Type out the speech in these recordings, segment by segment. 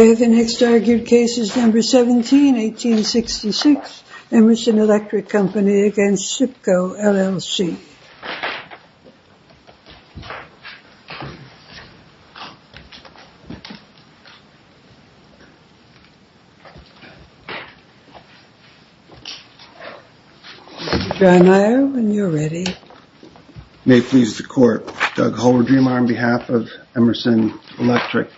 The next argued case is number 17, 1866, Emerson Electric Co. v. SIPCO, LLC. Mr. Dreimeier, when you're ready. May it please the Court. Doug Holder, Dreamer, on behalf of Emerson Electric.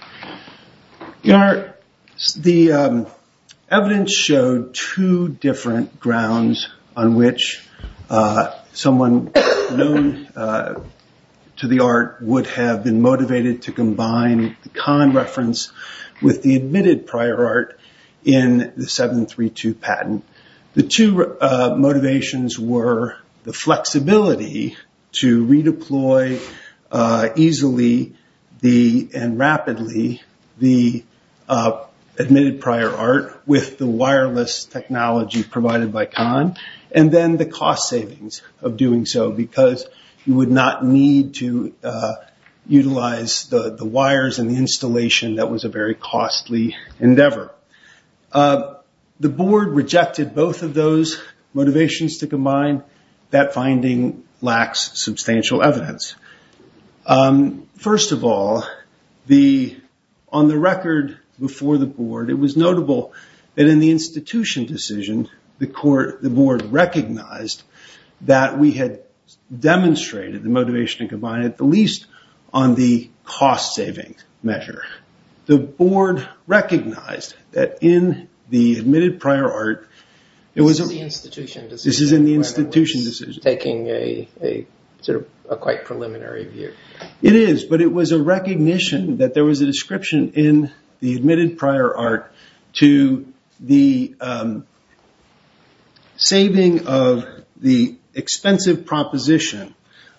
The evidence showed two different grounds on which someone known to the art would have been motivated to combine the Kahn reference with the admitted prior art in the 732 patent. The two motivations were the flexibility to redeploy easily and rapidly the admitted prior art with the wireless technology provided by Kahn, and then the cost savings of doing so because you would not need to utilize the wires and the installation that was a very costly endeavor. The Board rejected both of those motivations to combine. That finding lacks substantial evidence. First of all, on the record before the Board, it was notable that in the institution decision, the Board recognized that we had demonstrated the motivation to combine at the least on the cost savings measure. The Board recognized that in the admitted prior art, it was a recognition that there was a description in the admitted prior art to the saving of the expensive proposition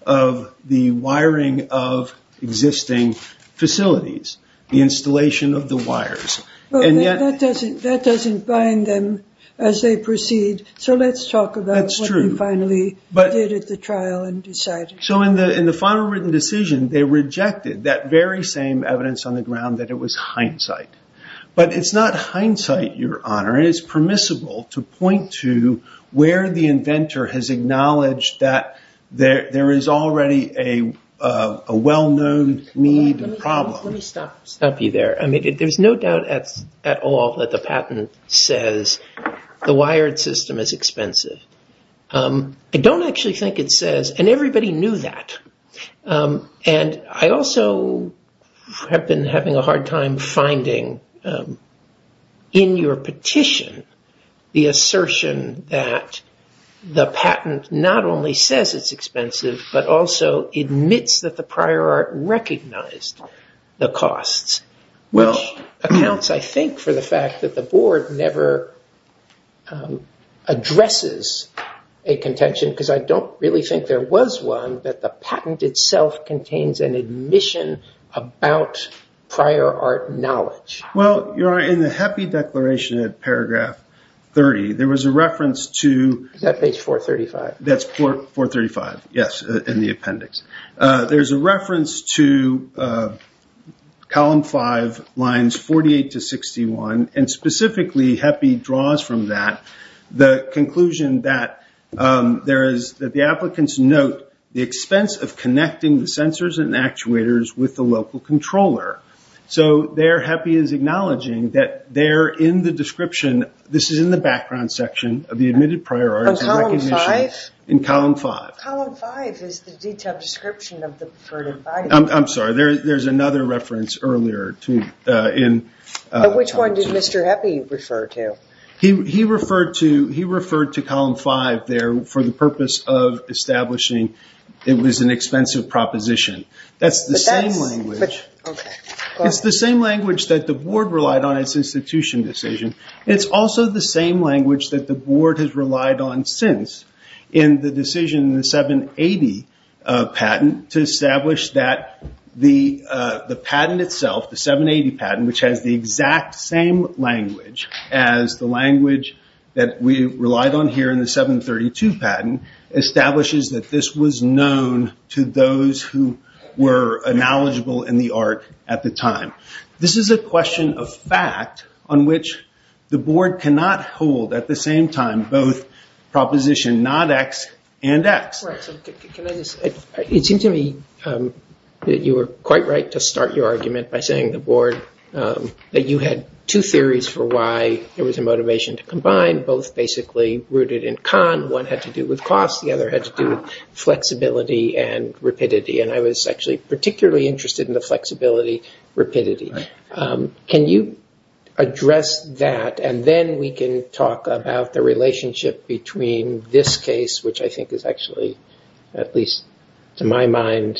of the wiring of existing facilities. The installation of the wires. That doesn't bind them as they proceed, so let's talk about what they finally did at the trial and decided. In the final written decision, they rejected that very same evidence on the ground that it was hindsight. It's not hindsight, Your Honor. It's permissible to point to where the inventor has acknowledged that there is already a well-known need and problem. Let me stop you there. There's no doubt at all that the patent says the wired system is expensive. I don't actually think it says, and everybody knew that. I also have been having a hard time finding in your petition the assertion that the patent not only says it's expensive, but also admits that the prior art recognized the costs. Which accounts, I think, for the fact that the Board never addresses a contention because I don't really think there was one that the patent itself contains an admission about prior art knowledge. Well, Your Honor, in the HEPI declaration at paragraph 30, there was a reference to... Is that page 435? That's 435, yes, in the appendix. There's a reference to column five, lines 48 to 61, and specifically HEPI draws from that the conclusion that the applicants note the expense of connecting the sensors and actuators with the local controller. So there, HEPI is acknowledging that they're in the description, this is in the background section of the admitted prior art... On column five? In column five. Column five is the detailed description of the... I'm sorry, there's another reference earlier in... Which one did Mr. HEPI refer to? He referred to column five there for the purpose of establishing it was an expensive proposition. It's the same language that the Board relied on in its institution decision. It's also the same language that the Board has relied on since in the decision in the 780 patent to establish that the patent itself, the 780 patent, which has the exact same language as the language that we relied on here in the 732 patent, establishes that this was known to those who were knowledgeable in the art at the time. This is a question of fact on which the Board cannot hold at the same time both proposition not X and X. It seems to me that you were quite right to start your argument by saying the Board, that you had two theories for why there was a motivation to combine, both basically rooted in con. One had to do with cost, the other had to do with flexibility and rapidity. And I was actually particularly interested in the flexibility, rapidity. Can you address that and then we can talk about the relationship between this case, which I think is actually, at least to my mind,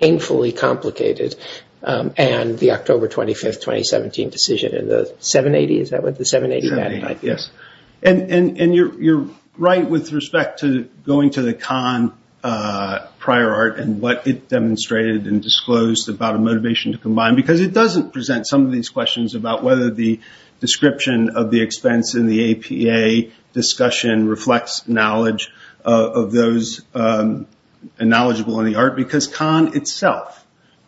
painfully complicated, and the October 25th, 2017 decision in the 780? Is that what the 780 patent is? You're right with respect to going to the con prior art and what it demonstrated and disclosed about a motivation to combine, because it doesn't present some of these questions about whether the description of the expense in the APA discussion reflects knowledge of those knowledgeable in the art, because con itself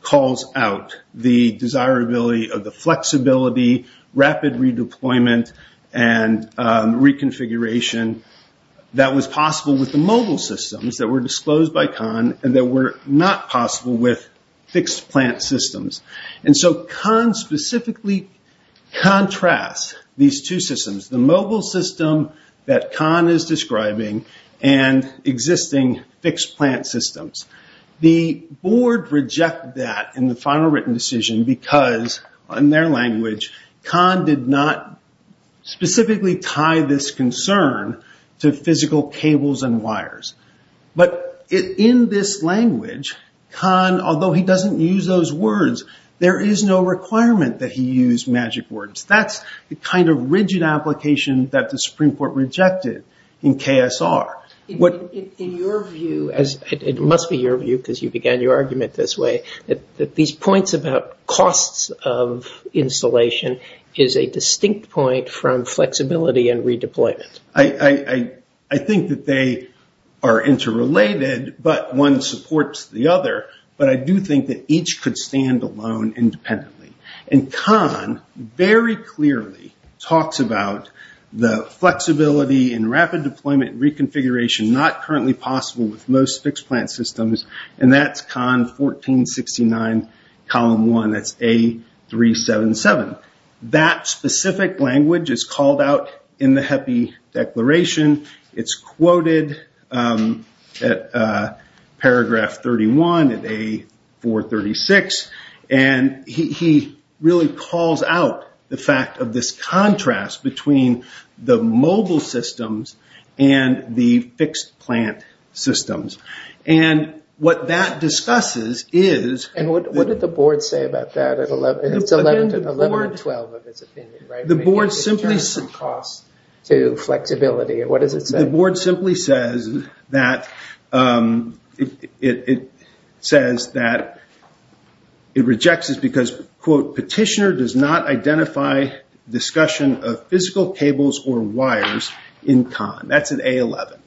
calls out the desirability of the flexibility, rapid redeployment, and reconfiguration that was possible with the mobile systems that were disclosed by con and that were not possible with fixed plant systems. And so con specifically contrasts these two systems, the mobile system that con is describing and existing fixed plant systems. The Board rejected that in the final written decision because, in their language, con did not specifically tie this concern to physical cables and wires. But in this language, con, although he doesn't use those words, there is no requirement that he use magic words. That's the kind of rigid application that the Supreme Court rejected in KSR. In your view, it must be your view because you began your argument this way, that these points about costs of installation is a distinct point from flexibility and redeployment. I think that they are interrelated, but one supports the other. But I do think that each could stand alone independently. And con very clearly talks about the flexibility and rapid deployment and reconfiguration not currently possible with most fixed plant systems. And that's con 1469, column 1. That's A377. That specific language is called out in the HEPI declaration. It's quoted at paragraph 31 of A436. And he really calls out the fact of this contrast between the mobile systems and the fixed plant systems. And what that discusses is... What did the board say about that? It's 11 and 12 of its opinion. The board simply... From cost to flexibility. What does it say? The board simply says that it rejects this because, quote, petitioner does not identify discussion of physical cables or wires in con. That's at A11.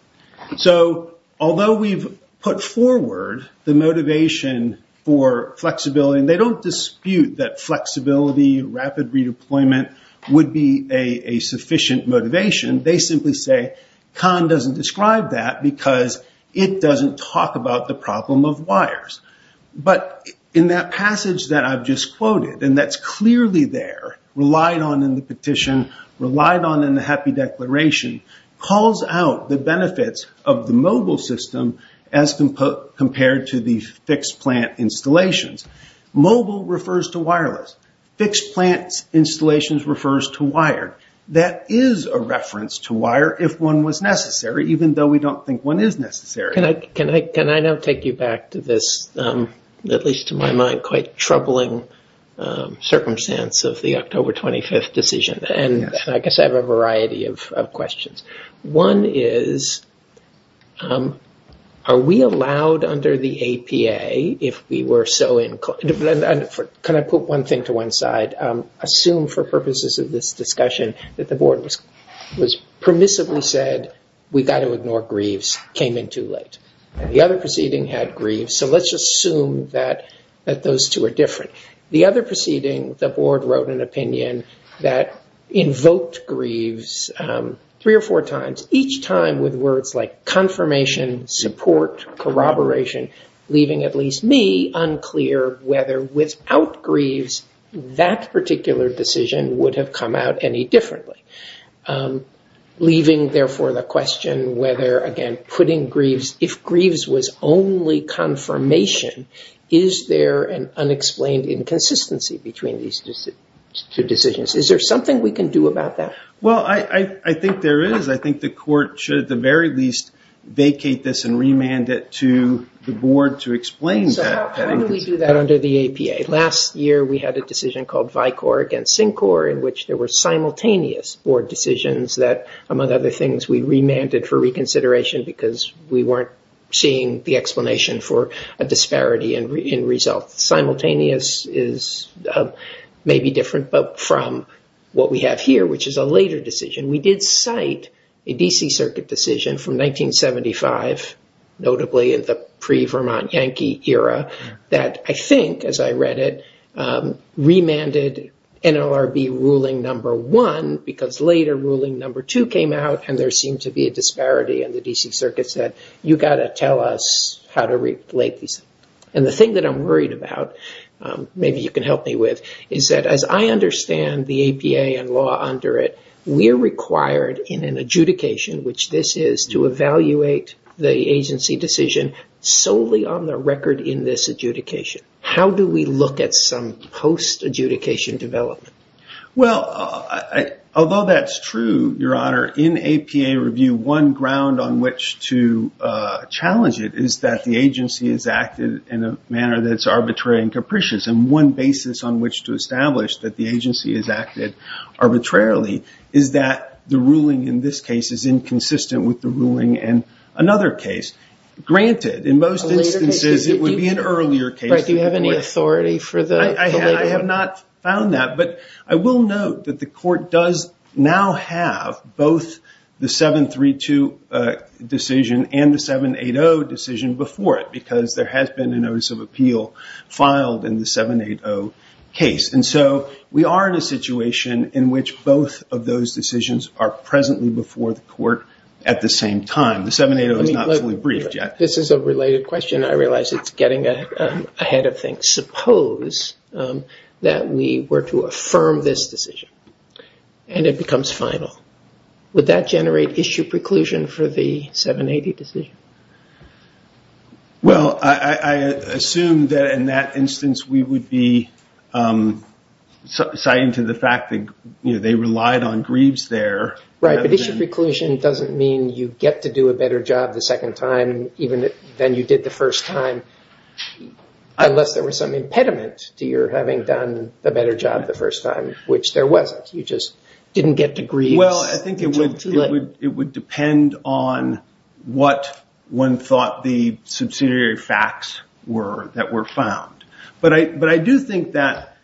So although we've put forward the motivation for flexibility, and they don't dispute that flexibility, rapid redeployment would be a sufficient motivation. They simply say con doesn't describe that because it doesn't talk about the problem of wires. But in that passage that I've just quoted, and that's clearly there, relied on in the petition, relied on in the HEPI declaration, calls out the benefits of the mobile system as compared to the fixed plant installations. Mobile refers to wireless. Fixed plant installations refers to wire. That is a reference to wire if one was necessary, even though we don't think one is necessary. Can I now take you back to this, at least to my mind, quite troubling circumstance of the October 25th decision? And I guess I have a variety of questions. One is, are we allowed under the APA if we were so inclined? Can I put one thing to one side? Assume for purposes of this discussion that the board was permissively said, we've got to ignore greaves, came in too late. The other proceeding had greaves, so let's just assume that those two are different. The other proceeding, the board wrote an opinion that invoked greaves three or four times, each time with words like confirmation, support, corroboration, leaving at least me unclear whether without greaves that particular decision would have come out any differently. Leaving, therefore, the question whether, again, putting greaves, if greaves was only confirmation, is there an unexplained inconsistency between these two decisions? Is there something we can do about that? Well, I think there is. I think the court should, at the very least, vacate this and remand it to the board to explain that. So how do we do that under the APA? Last year, we had a decision called VICOR against SINCOR in which there were simultaneous board decisions that, among other things, we remanded for reconsideration because we weren't seeing the explanation for a disparity in results. Simultaneous is maybe different, but from what we have here, which is a later decision, we did cite a DC Circuit decision from 1975, notably in the pre-Vermont Yankee era, that I think, as I read it, remanded NLRB ruling number one because later ruling number two came out and there seemed to be a disparity and the DC Circuit said, you've got to tell us how to relate these. And the thing that I'm worried about, maybe you can help me with, is that as I understand the APA and law under it, we're required in an adjudication, which this is, to evaluate the agency decision solely on the record in this adjudication. How do we look at some post-adjudication development? Well, although that's true, Your Honor, in APA review, one ground on which to challenge it is that the agency has acted in a manner that's arbitrary and capricious and one basis on which to establish that the agency has acted arbitrarily is that the ruling in this case is inconsistent with the ruling in another case. Granted, in most instances, it would be an earlier case. Do you have any authority for the later one? I have not found that, but I will note that the court does now have both the 732 decision and the 780 decision before it because there has been a notice of appeal filed in the 780 case. And so we are in a situation in which both of those decisions are presently before the court at the same time. The 780 is not fully briefed yet. This is a related question. I realize it's getting ahead of things. Suppose that we were to affirm this decision and it becomes final. Would that generate issue preclusion for the 780 decision? Well, I assume that in that instance, we would be citing to the fact that they relied on grieves there. Right, but issue preclusion doesn't mean you get to do a better job the second time than you did the first time unless there was some impediment to your having done a better job the first time, which there wasn't. You just didn't get to grieve. Well, I think it would depend on what one thought the subsidiary facts were that were found. But I do think that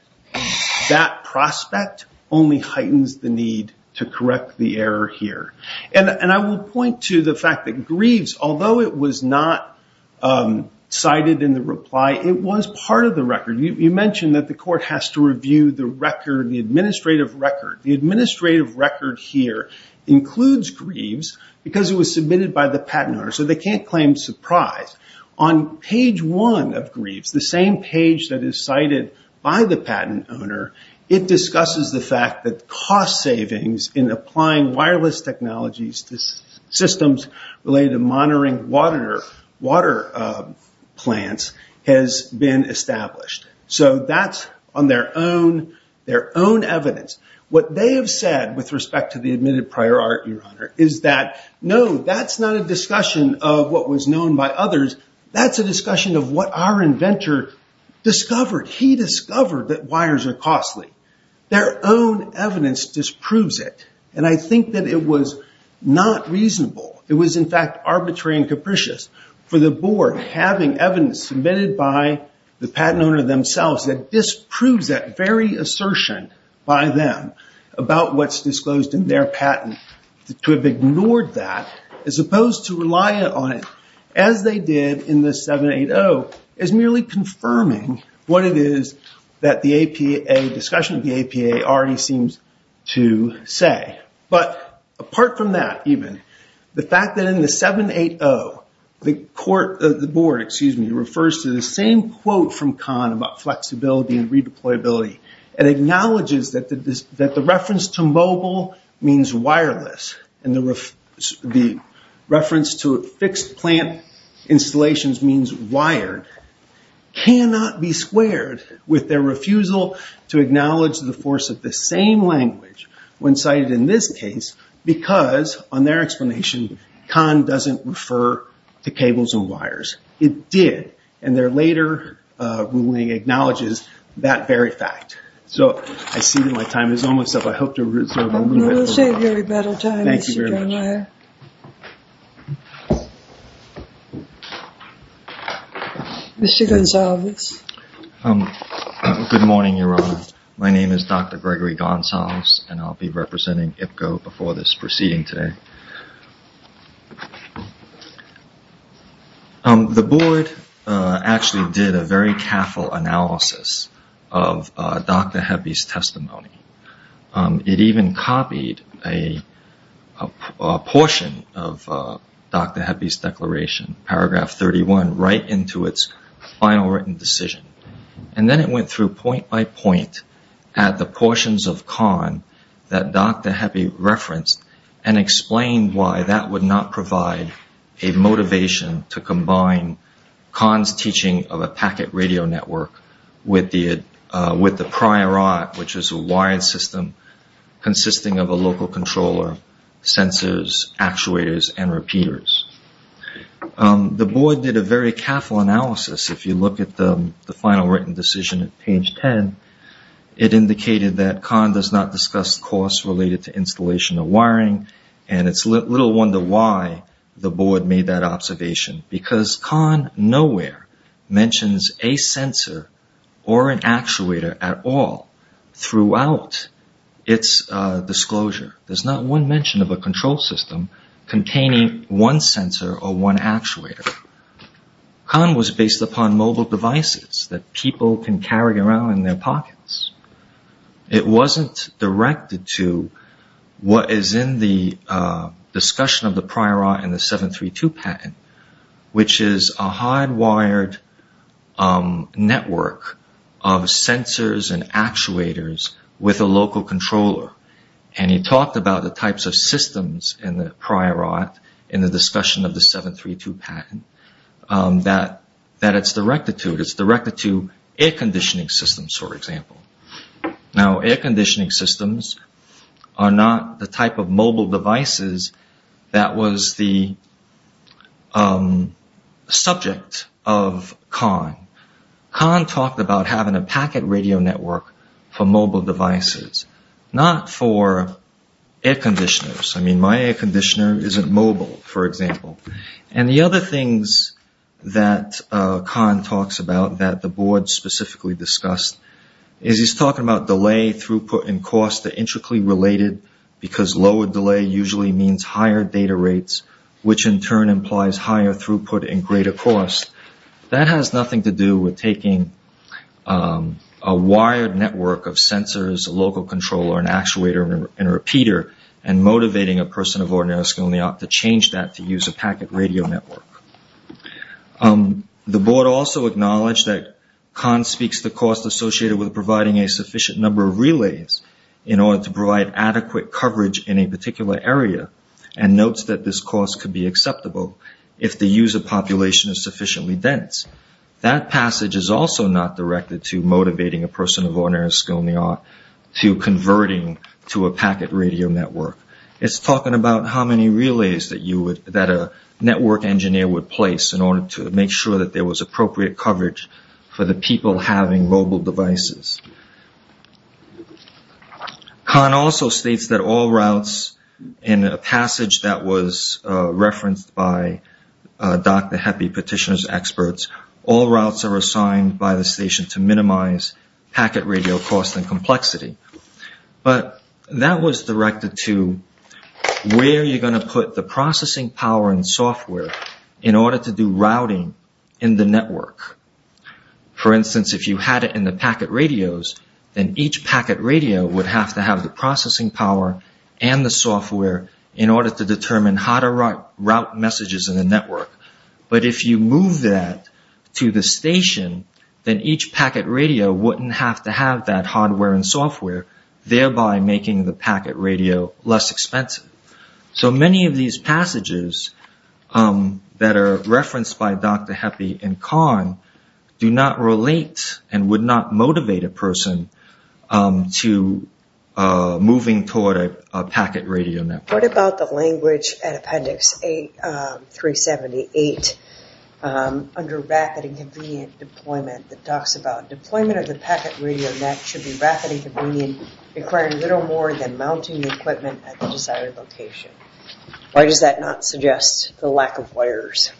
that prospect only heightens the need to correct the error here. And I will point to the fact that grieves, although it was not cited in the reply, it was part of the record. You mentioned that the court has to review the record, the administrative record. The administrative record here includes grieves because it was submitted by the patent owner, so they can't claim surprise. On page one of grieves, the same page that is cited by the patent owner, it discusses the fact that cost savings in applying wireless technologies to systems related to monitoring water plants has been established. So that's on their own evidence. What they have said with respect to the admitted prior art, Your Honor, is that, no, that's not a discussion of what was known by others. That's a discussion of what our inventor discovered. He discovered that wires are costly. Their own evidence disproves it. And I think that it was not reasonable. It was, in fact, arbitrary and capricious for the board, having evidence submitted by the patent owner themselves, that disproves that very assertion by them about what's disclosed in their patent. To have ignored that, as opposed to relying on it, as they did in the 780, is merely confirming what it is that the APA, discussion of the APA, already seems to say. But apart from that, even, the fact that in the 780, the board refers to the same quote from Kahn about flexibility and redeployability, and acknowledges that the reference to mobile means wireless, and the reference to fixed plant installations means wired, cannot be squared with their refusal to acknowledge the force of the same language when cited in this case, because, on their explanation, Kahn doesn't refer to cables and wires. It did. And their later ruling acknowledges that very fact. So I see that my time is almost up. I hope to reserve a little bit more. We'll save your rebuttal time, Mr. Dornier. Mr. Gonsalves. Good morning, Your Honor. My name is Dr. Gregory Gonsalves, and I'll be representing IPCO before this proceeding today. The board actually did a very careful analysis of Dr. Heppe's testimony. It even copied a portion of Dr. Heppe's declaration, paragraph 31, right into its final written decision. And then it went through point by point at the portions of Kahn that Dr. Heppe referenced, and explained why that would not provide a motivation to combine Kahn's teaching of a packet radio network with the prior art, which is a wired system consisting of a local controller, sensors, actuators, and repeaters. The board did a very careful analysis. If you look at the final written decision at page 10, it indicated that Kahn does not discuss costs related to installation of wiring. And it's little wonder why the board made that observation, because Kahn nowhere mentions a sensor or an actuator at all throughout its disclosure. There's not one mention of a control system containing one sensor or one actuator. Kahn was based upon mobile devices that people can carry around in their pockets. It wasn't directed to what is in the discussion of the prior art and the 732 patent, which is a hardwired network of sensors and actuators with a local controller. And he talked about the types of systems in the prior art in the discussion of the 732 patent that it's directed to. It's directed to air conditioning systems, for example. Now, air conditioning systems are not the type of mobile devices that was the subject of Kahn. Kahn talked about having a packet radio network for mobile devices, not for air conditioners. I mean, my air conditioner isn't mobile, for example. And the other things that Kahn talks about that the board specifically discussed is he's talking about delay, throughput, and cost that are intricately related, because lower delay usually means higher data rates, which in turn implies higher throughput and greater cost. That has nothing to do with taking a wired network of sensors, a local controller, an actuator, and a repeater and motivating a person of ordinary skill in the art to change that to use a packet radio network. The board also acknowledged that Kahn speaks to cost associated with providing a sufficient number of relays in order to provide adequate coverage in a particular area and notes that this cost could be acceptable if the user population is sufficiently dense. That passage is also not directed to motivating a person of ordinary skill in the art to converting to a packet radio network. It's talking about how many relays that a network engineer would place in order to make sure that there was appropriate coverage for the people having mobile devices. Kahn also states that all routes in a passage that was referenced by Dr. Heppe, petitioner's expert, all routes are assigned by the station to minimize packet radio cost and complexity. But that was directed to where you're going to put the processing power and software in order to do routing in the network. For instance, if you had it in the packet radios, then each packet radio would have to have the processing power and the software in order to determine how to route messages in the network. But if you move that to the station, then each packet radio wouldn't have to have that hardware and software, thereby making the packet radio less expensive. So many of these passages that are referenced by Dr. Heppe and Kahn do not relate and would not motivate a person to moving toward a packet radio network. What about the language at appendix 378 under rapid and convenient deployment that talks about deployment of the packet radio net should be rapid and convenient requiring little more than mounting the equipment at the desired location. Why does that not suggest the lack of wires?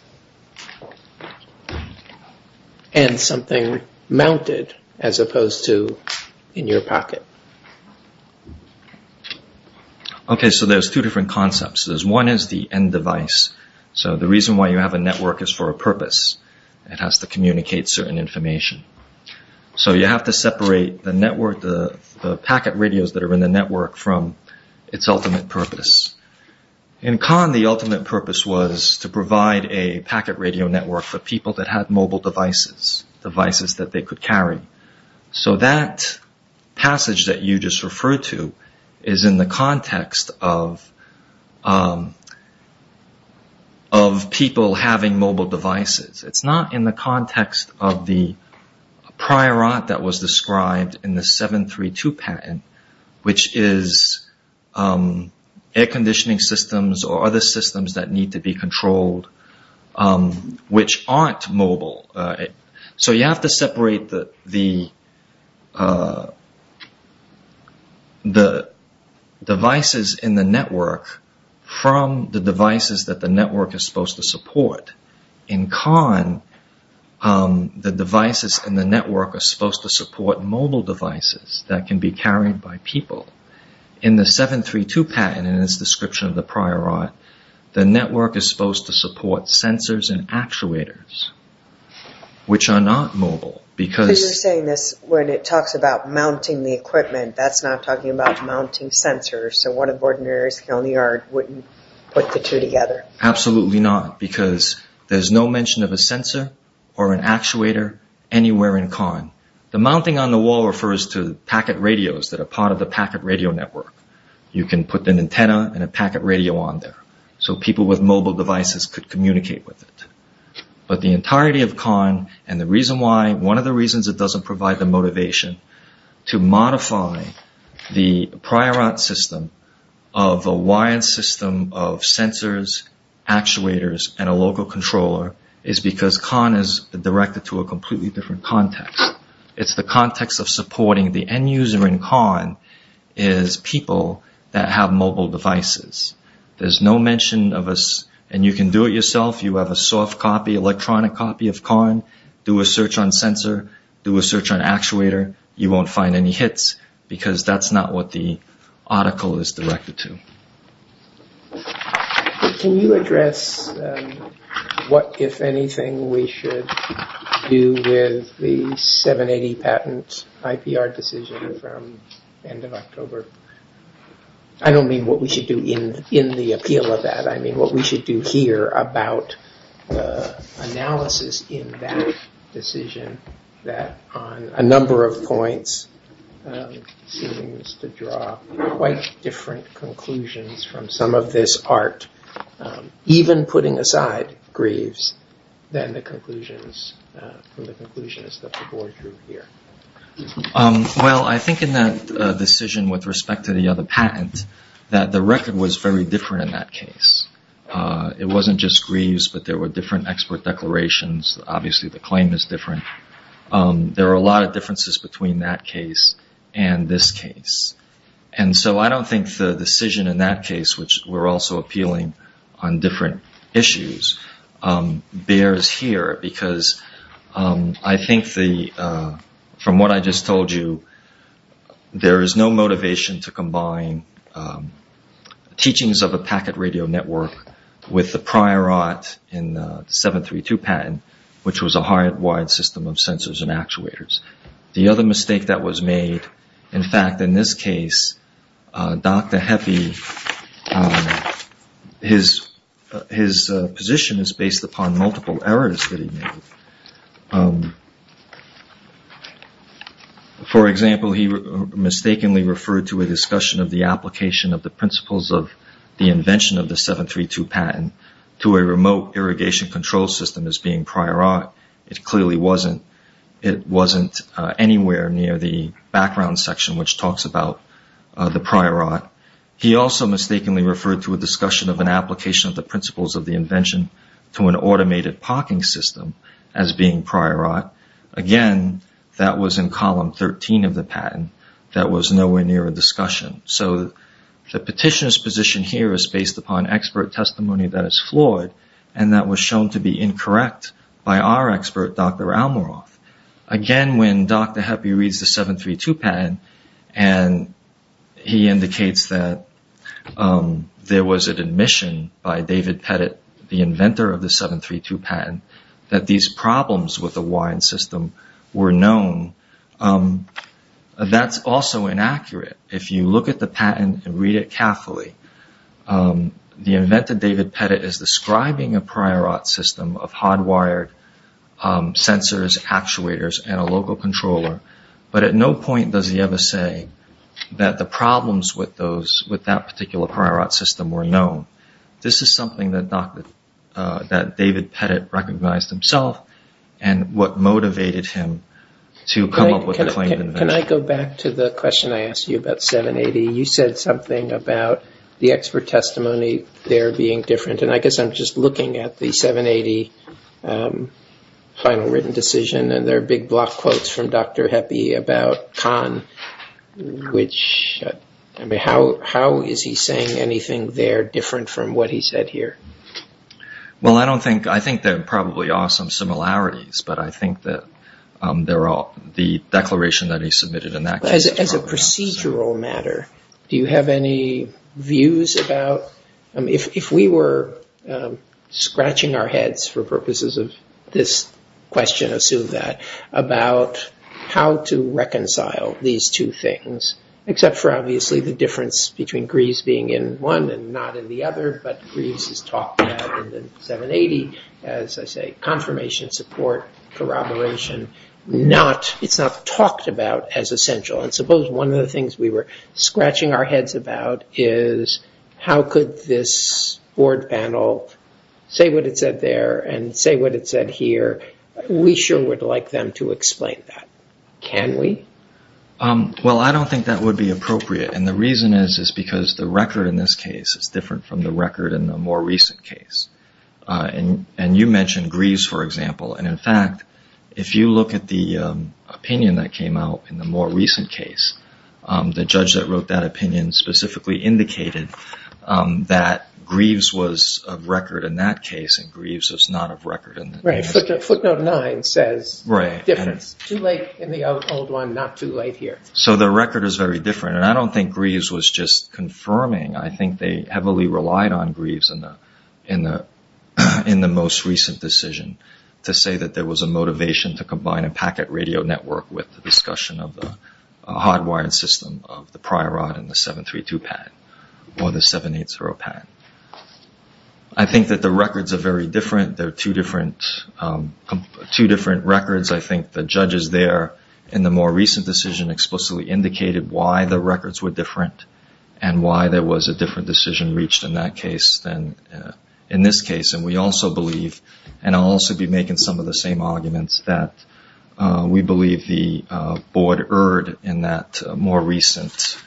And something mounted as opposed to in your pocket. Okay, so there's two different concepts. One is the end device. So the reason why you have a network is for a purpose. It has to communicate certain information. So you have to separate the packet radios that are in the network from its ultimate purpose. In Kahn, the ultimate purpose was to provide a packet radio network for people that had mobile devices, devices that they could carry. So that passage that you just referred to is in the context of people having mobile devices. It's not in the context of the prior art that was described in the 732 patent, which is air conditioning systems or other systems that need to be controlled which aren't mobile. So you have to separate the devices in the network from the devices that the network is supposed to support. In Kahn, the devices in the network are supposed to support mobile devices that can be carried by people. In the 732 patent and its description of the prior art, the network is supposed to support sensors and actuators, which are not mobile. Because you're saying this when it talks about mounting the equipment. That's not talking about mounting sensors. So what if ordinary people in the yard wouldn't put the two together? Absolutely not, because there's no mention of a sensor or an actuator anywhere in Kahn. The mounting on the wall refers to packet radios that are part of the packet radio network. You can put an antenna and a packet radio on there so people with mobile devices could communicate with it. But the entirety of Kahn, and one of the reasons it doesn't provide the motivation to modify the prior art system of a wired system of sensors, actuators, and a local controller, is because Kahn is directed to a completely different context. It's the context of supporting the end user in Kahn is people that have mobile devices. There's no mention of a, and you can do it yourself, you have a soft copy, electronic copy of Kahn, do a search on sensor, do a search on actuator, you won't find any hits, because that's not what the article is directed to. Can you address what, if anything, we should do with the 780 patent IPR decision from the end of October? I don't mean what we should do in the appeal of that, I mean what we should do here about analysis in that decision that, on a number of points, seems to draw quite different conclusions from some of this art, even putting aside Greaves, than the conclusions that the board drew here. Well, I think in that decision with respect to the other patent, that the record was very different in that case. It wasn't just Greaves, but there were different expert declarations, obviously the claim is different. There are a lot of differences between that case and this case. And so I don't think the decision in that case, which we're also appealing on different issues, bears here, because I think, from what I just told you, there is no motivation to combine teachings of a packet radio network with the prior art in the 732 patent, which was a hardwired system of sensors and actuators. The other mistake that was made, in fact, in this case, Dr. Heppe, his position is based upon multiple errors that he made. For example, he mistakenly referred to a discussion of the application of the principles of the invention of the 732 patent to a remote irrigation control system as being prior art. It clearly wasn't. It wasn't anywhere near the background section, which talks about the prior art. He also mistakenly referred to a discussion of an application of the principles of the invention to an automated parking system as being prior art. Again, that was in column 13 of the patent. That was nowhere near a discussion. So the petitioner's position here is based upon expert testimony that is flawed and that was shown to be incorrect by our expert, Dr. Almoroff. Again, when Dr. Heppe reads the 732 patent and he indicates that there was an admission by David Pettit, the inventor of the 732 patent, that these problems with the WINE system were known, that's also inaccurate. If you look at the patent and read it carefully, the inventor, David Pettit, is describing a prior art system of hardwired sensors, actuators, and a local controller, but at no point does he ever say that the problems with that particular prior art system were known. This is something that David Pettit recognized himself and what motivated him to come up with the claimed invention. Can I go back to the question I asked you about 780? You said something about the expert testimony there being different. I guess I'm just looking at the 780 final written decision and there are big block quotes from Dr. Heppe about Kahn. How is he saying anything there different from what he said here? I think there probably are some similarities, but I think that the declaration that he submitted in that case... As a procedural matter, do you have any views about... Except for obviously the difference between Greaves being in one and not in the other, but Greaves is talked about in the 780 as confirmation, support, corroboration. It's not talked about as essential. Suppose one of the things we were scratching our heads about is how could this board panel say what it said there and say what it said here? We sure would like them to explain that. Can we? I don't think that would be appropriate. The reason is because the record in this case is different from the record in the more recent case. You mentioned Greaves, for example. In fact, if you look at the opinion that came out in the more recent case, the judge that wrote that opinion specifically indicated that Greaves was of record in that case and Greaves was not of record. Footnote 9 says difference. Too late in the old one, not too late here. So the record is very different, and I don't think Greaves was just confirming. I think they heavily relied on Greaves in the most recent decision to say that there was a motivation to combine a packet radio network with the discussion of the hardwired system of the prior rod and the 732 pad or the 780 pad. I think that the records are very different. They're two different records. I think the judges there in the more recent decision explicitly indicated why the records were different and why there was a different decision reached in that case than in this case. And we also believe, and I'll also be making some of the same arguments, that we believe the board erred in that more recent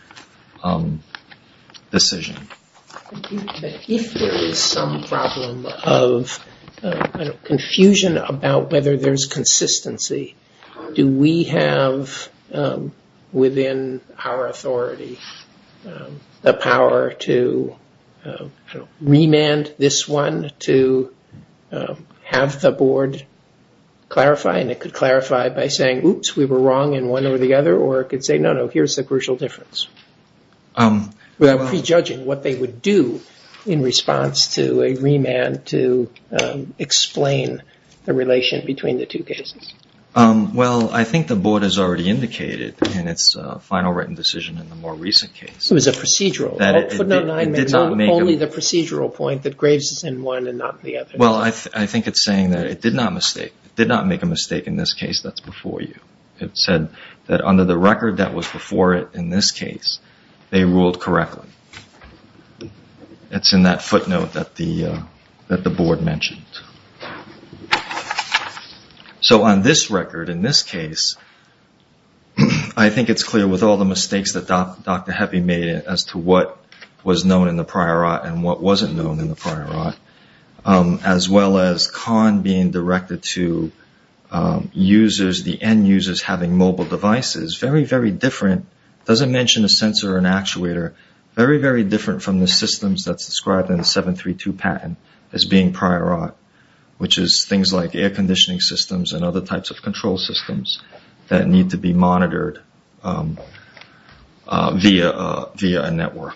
decision. If there is some problem of confusion about whether there's consistency, do we have within our authority the power to remand this one to have the board clarify? And it could clarify by saying, oops, we were wrong in one or the other, or it could say, no, no, here's the crucial difference, without prejudging what they would do in response to a remand to explain the relation between the two cases. Well, I think the board has already indicated in its final written decision in the more recent case. It was a procedural. It did not make it. Only the procedural point that Greaves is in one and not the other. Well, I think it's saying that it did not make a mistake in this case that's before you. It said that under the record that was before it in this case, they ruled correctly. It's in that footnote that the board mentioned. So on this record, in this case, I think it's clear with all the mistakes that Dr. Heffy made as to what was known in the prior art and what wasn't known in the prior art, as well as Kahn being directed to users, the end users having mobile devices, very, very different. It doesn't mention a sensor or an actuator. Very, very different from the systems that's described in the 732 patent as being prior art, which is things like air conditioning systems and other types of control systems that need to be monitored via a network.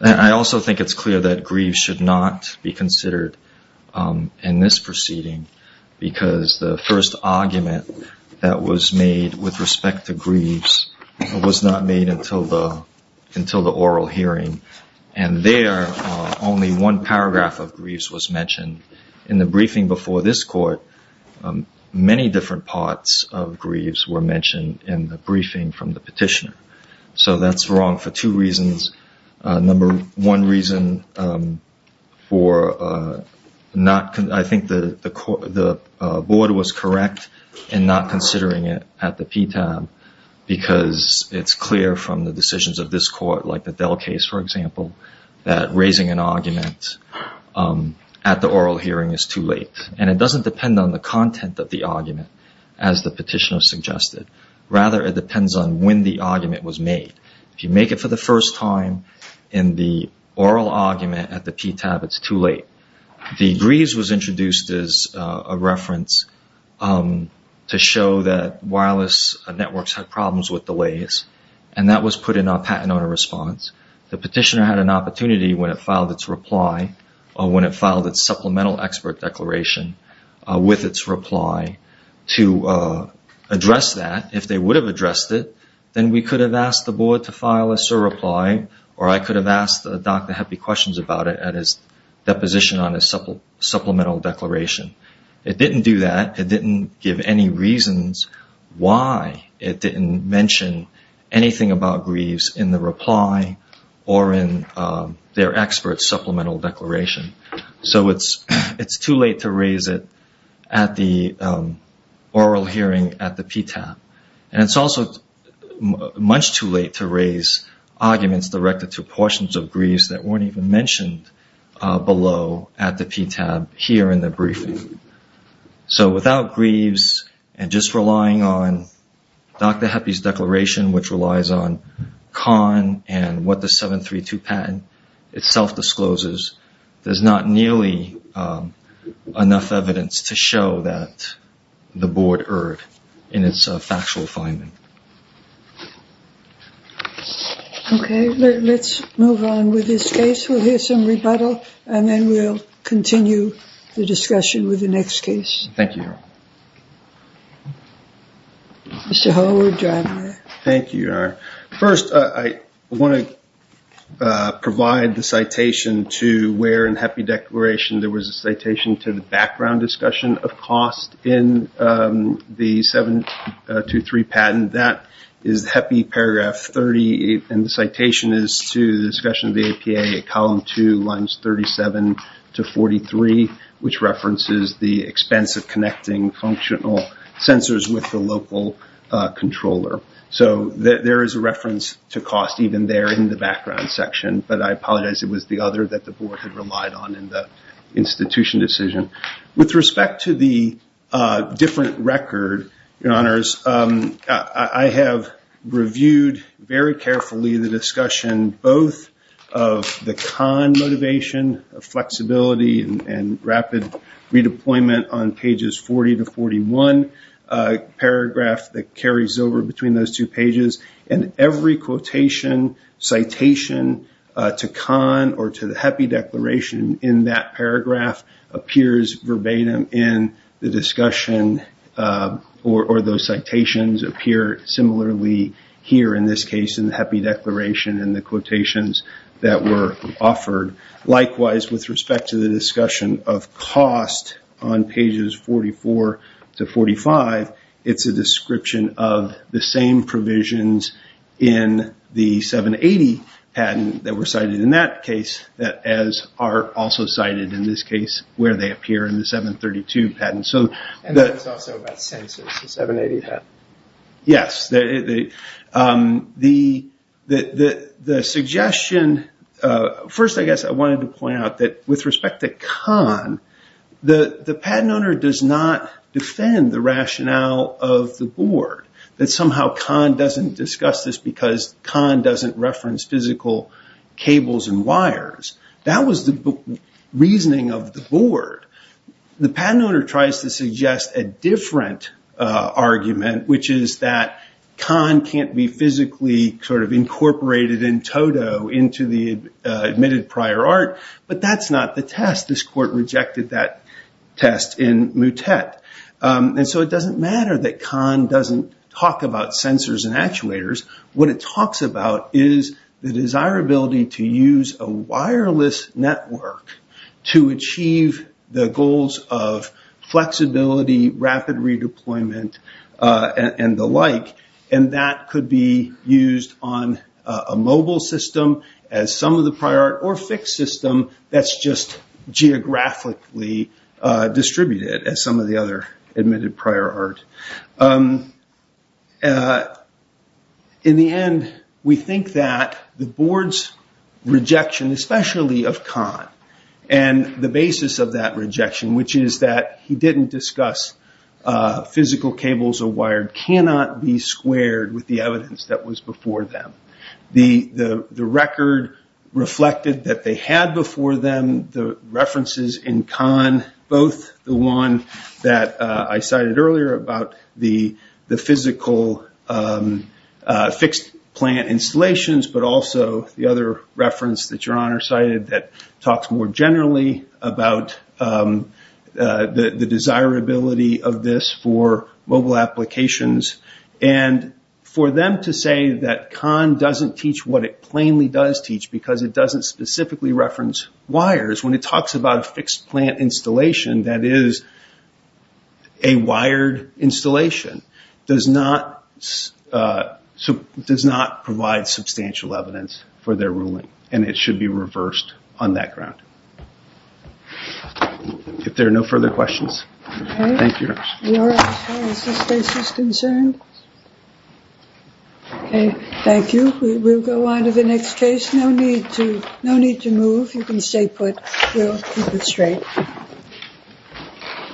I also think it's clear that Greaves should not be considered in this proceeding because the first argument that was made with respect to Greaves was not made until the oral hearing. And there, only one paragraph of Greaves was mentioned. In the briefing before this court, many different parts of Greaves were mentioned in the briefing from the petitioner. So that's wrong for two reasons. Number one reason for not, I think the board was correct in not considering it at the PTAB because it's clear from the decisions of this court, like the Dell case, for example, that raising an argument at the oral hearing is too late. And it doesn't depend on the content of the argument, as the petitioner suggested. Rather, it depends on when the argument was made. If you make it for the first time in the oral argument at the PTAB, it's too late. The Greaves was introduced as a reference to show that wireless networks had problems with delays, and that was put in our patent owner response. The petitioner had an opportunity when it filed its reply, or when it filed its supplemental expert declaration with its reply, to address that. If they would have addressed it, then we could have asked the board to file a SIR reply, or I could have asked Dr. Heppe questions about it at his deposition on his supplemental declaration. It didn't do that. It didn't give any reasons why it didn't mention anything about Greaves in the reply or in their expert supplemental declaration. So it's too late to raise it at the oral hearing at the PTAB. And it's also much too late to raise arguments directed to portions of Greaves that weren't even mentioned below at the PTAB here in the briefing. So without Greaves, and just relying on Dr. Heppe's declaration, which relies on Kahn and what the 732 patent itself discloses, there's not nearly enough evidence to show that the board erred in its factual finding. Okay, let's move on with this case. We'll hear some rebuttal, and then we'll continue the discussion with the next case. Thank you. Mr. Hull, we're driving there. Thank you, Your Honor. First, I want to provide the citation to where in Heppe's declaration there was a citation to the background discussion of cost in the 723 patent. That is Heppe paragraph 38, and the citation is to the discussion of the APA at column 2, lines 37 to 43, which references the expense of connecting functional sensors with the local controller. So there is a reference to cost even there in the background section, but I apologize it was the other that the board had relied on in the institution decision. With respect to the different record, Your Honors, I have reviewed very carefully the discussion both of the Kahn motivation, flexibility, and rapid redeployment on pages 40 to 41, a paragraph that carries over between those two pages, and every quotation, citation to Kahn or to the Heppe declaration in that paragraph appears verbatim in the discussion, or those citations appear similarly here in this case in the Heppe declaration and the quotations that were offered. Likewise, with respect to the discussion of cost on pages 44 to 45, it's a description of the same provisions in the 780 patent that were cited in that case, as are also cited in this case where they appear in the 732 patent. And it's also about sensors, the 780 patent. Yes. First, I guess I wanted to point out that with respect to Kahn, the patent owner does not defend the rationale of the board, that somehow Kahn doesn't discuss this because Kahn doesn't reference physical cables and wires. That was the reasoning of the board. The patent owner tries to suggest a different argument, which is that Kahn can't be physically incorporated in toto into the admitted prior art, but that's not the test. This court rejected that test in Muttet. And so it doesn't matter that Kahn doesn't talk about sensors and actuators. What it talks about is the desirability to use a wireless network to achieve the goals of flexibility, rapid redeployment, and the like. And that could be used on a mobile system as some of the prior art, or a fixed system that's just geographically distributed as some of the other admitted prior art. In the end, we think that the board's rejection, especially of Kahn, and the basis of that rejection, which is that he didn't discuss physical cables or wires, cannot be squared with the evidence that was before them. The record reflected that they had before them the references in Kahn, both the one that I cited earlier about the physical fixed plant installations, but also the other reference that Your Honor cited that talks more generally about the desirability of this for mobile applications. And for them to say that Kahn doesn't teach what it plainly does teach because it doesn't specifically reference wires, when it talks about a fixed plant installation that is a wired installation, does not provide substantial evidence for their ruling. And it should be reversed on that ground. If there are no further questions, thank you, Your Honor. Is this case as concerned? Okay, thank you. We will go on to the next case. No need to move. If you can stay put, we'll move it straight.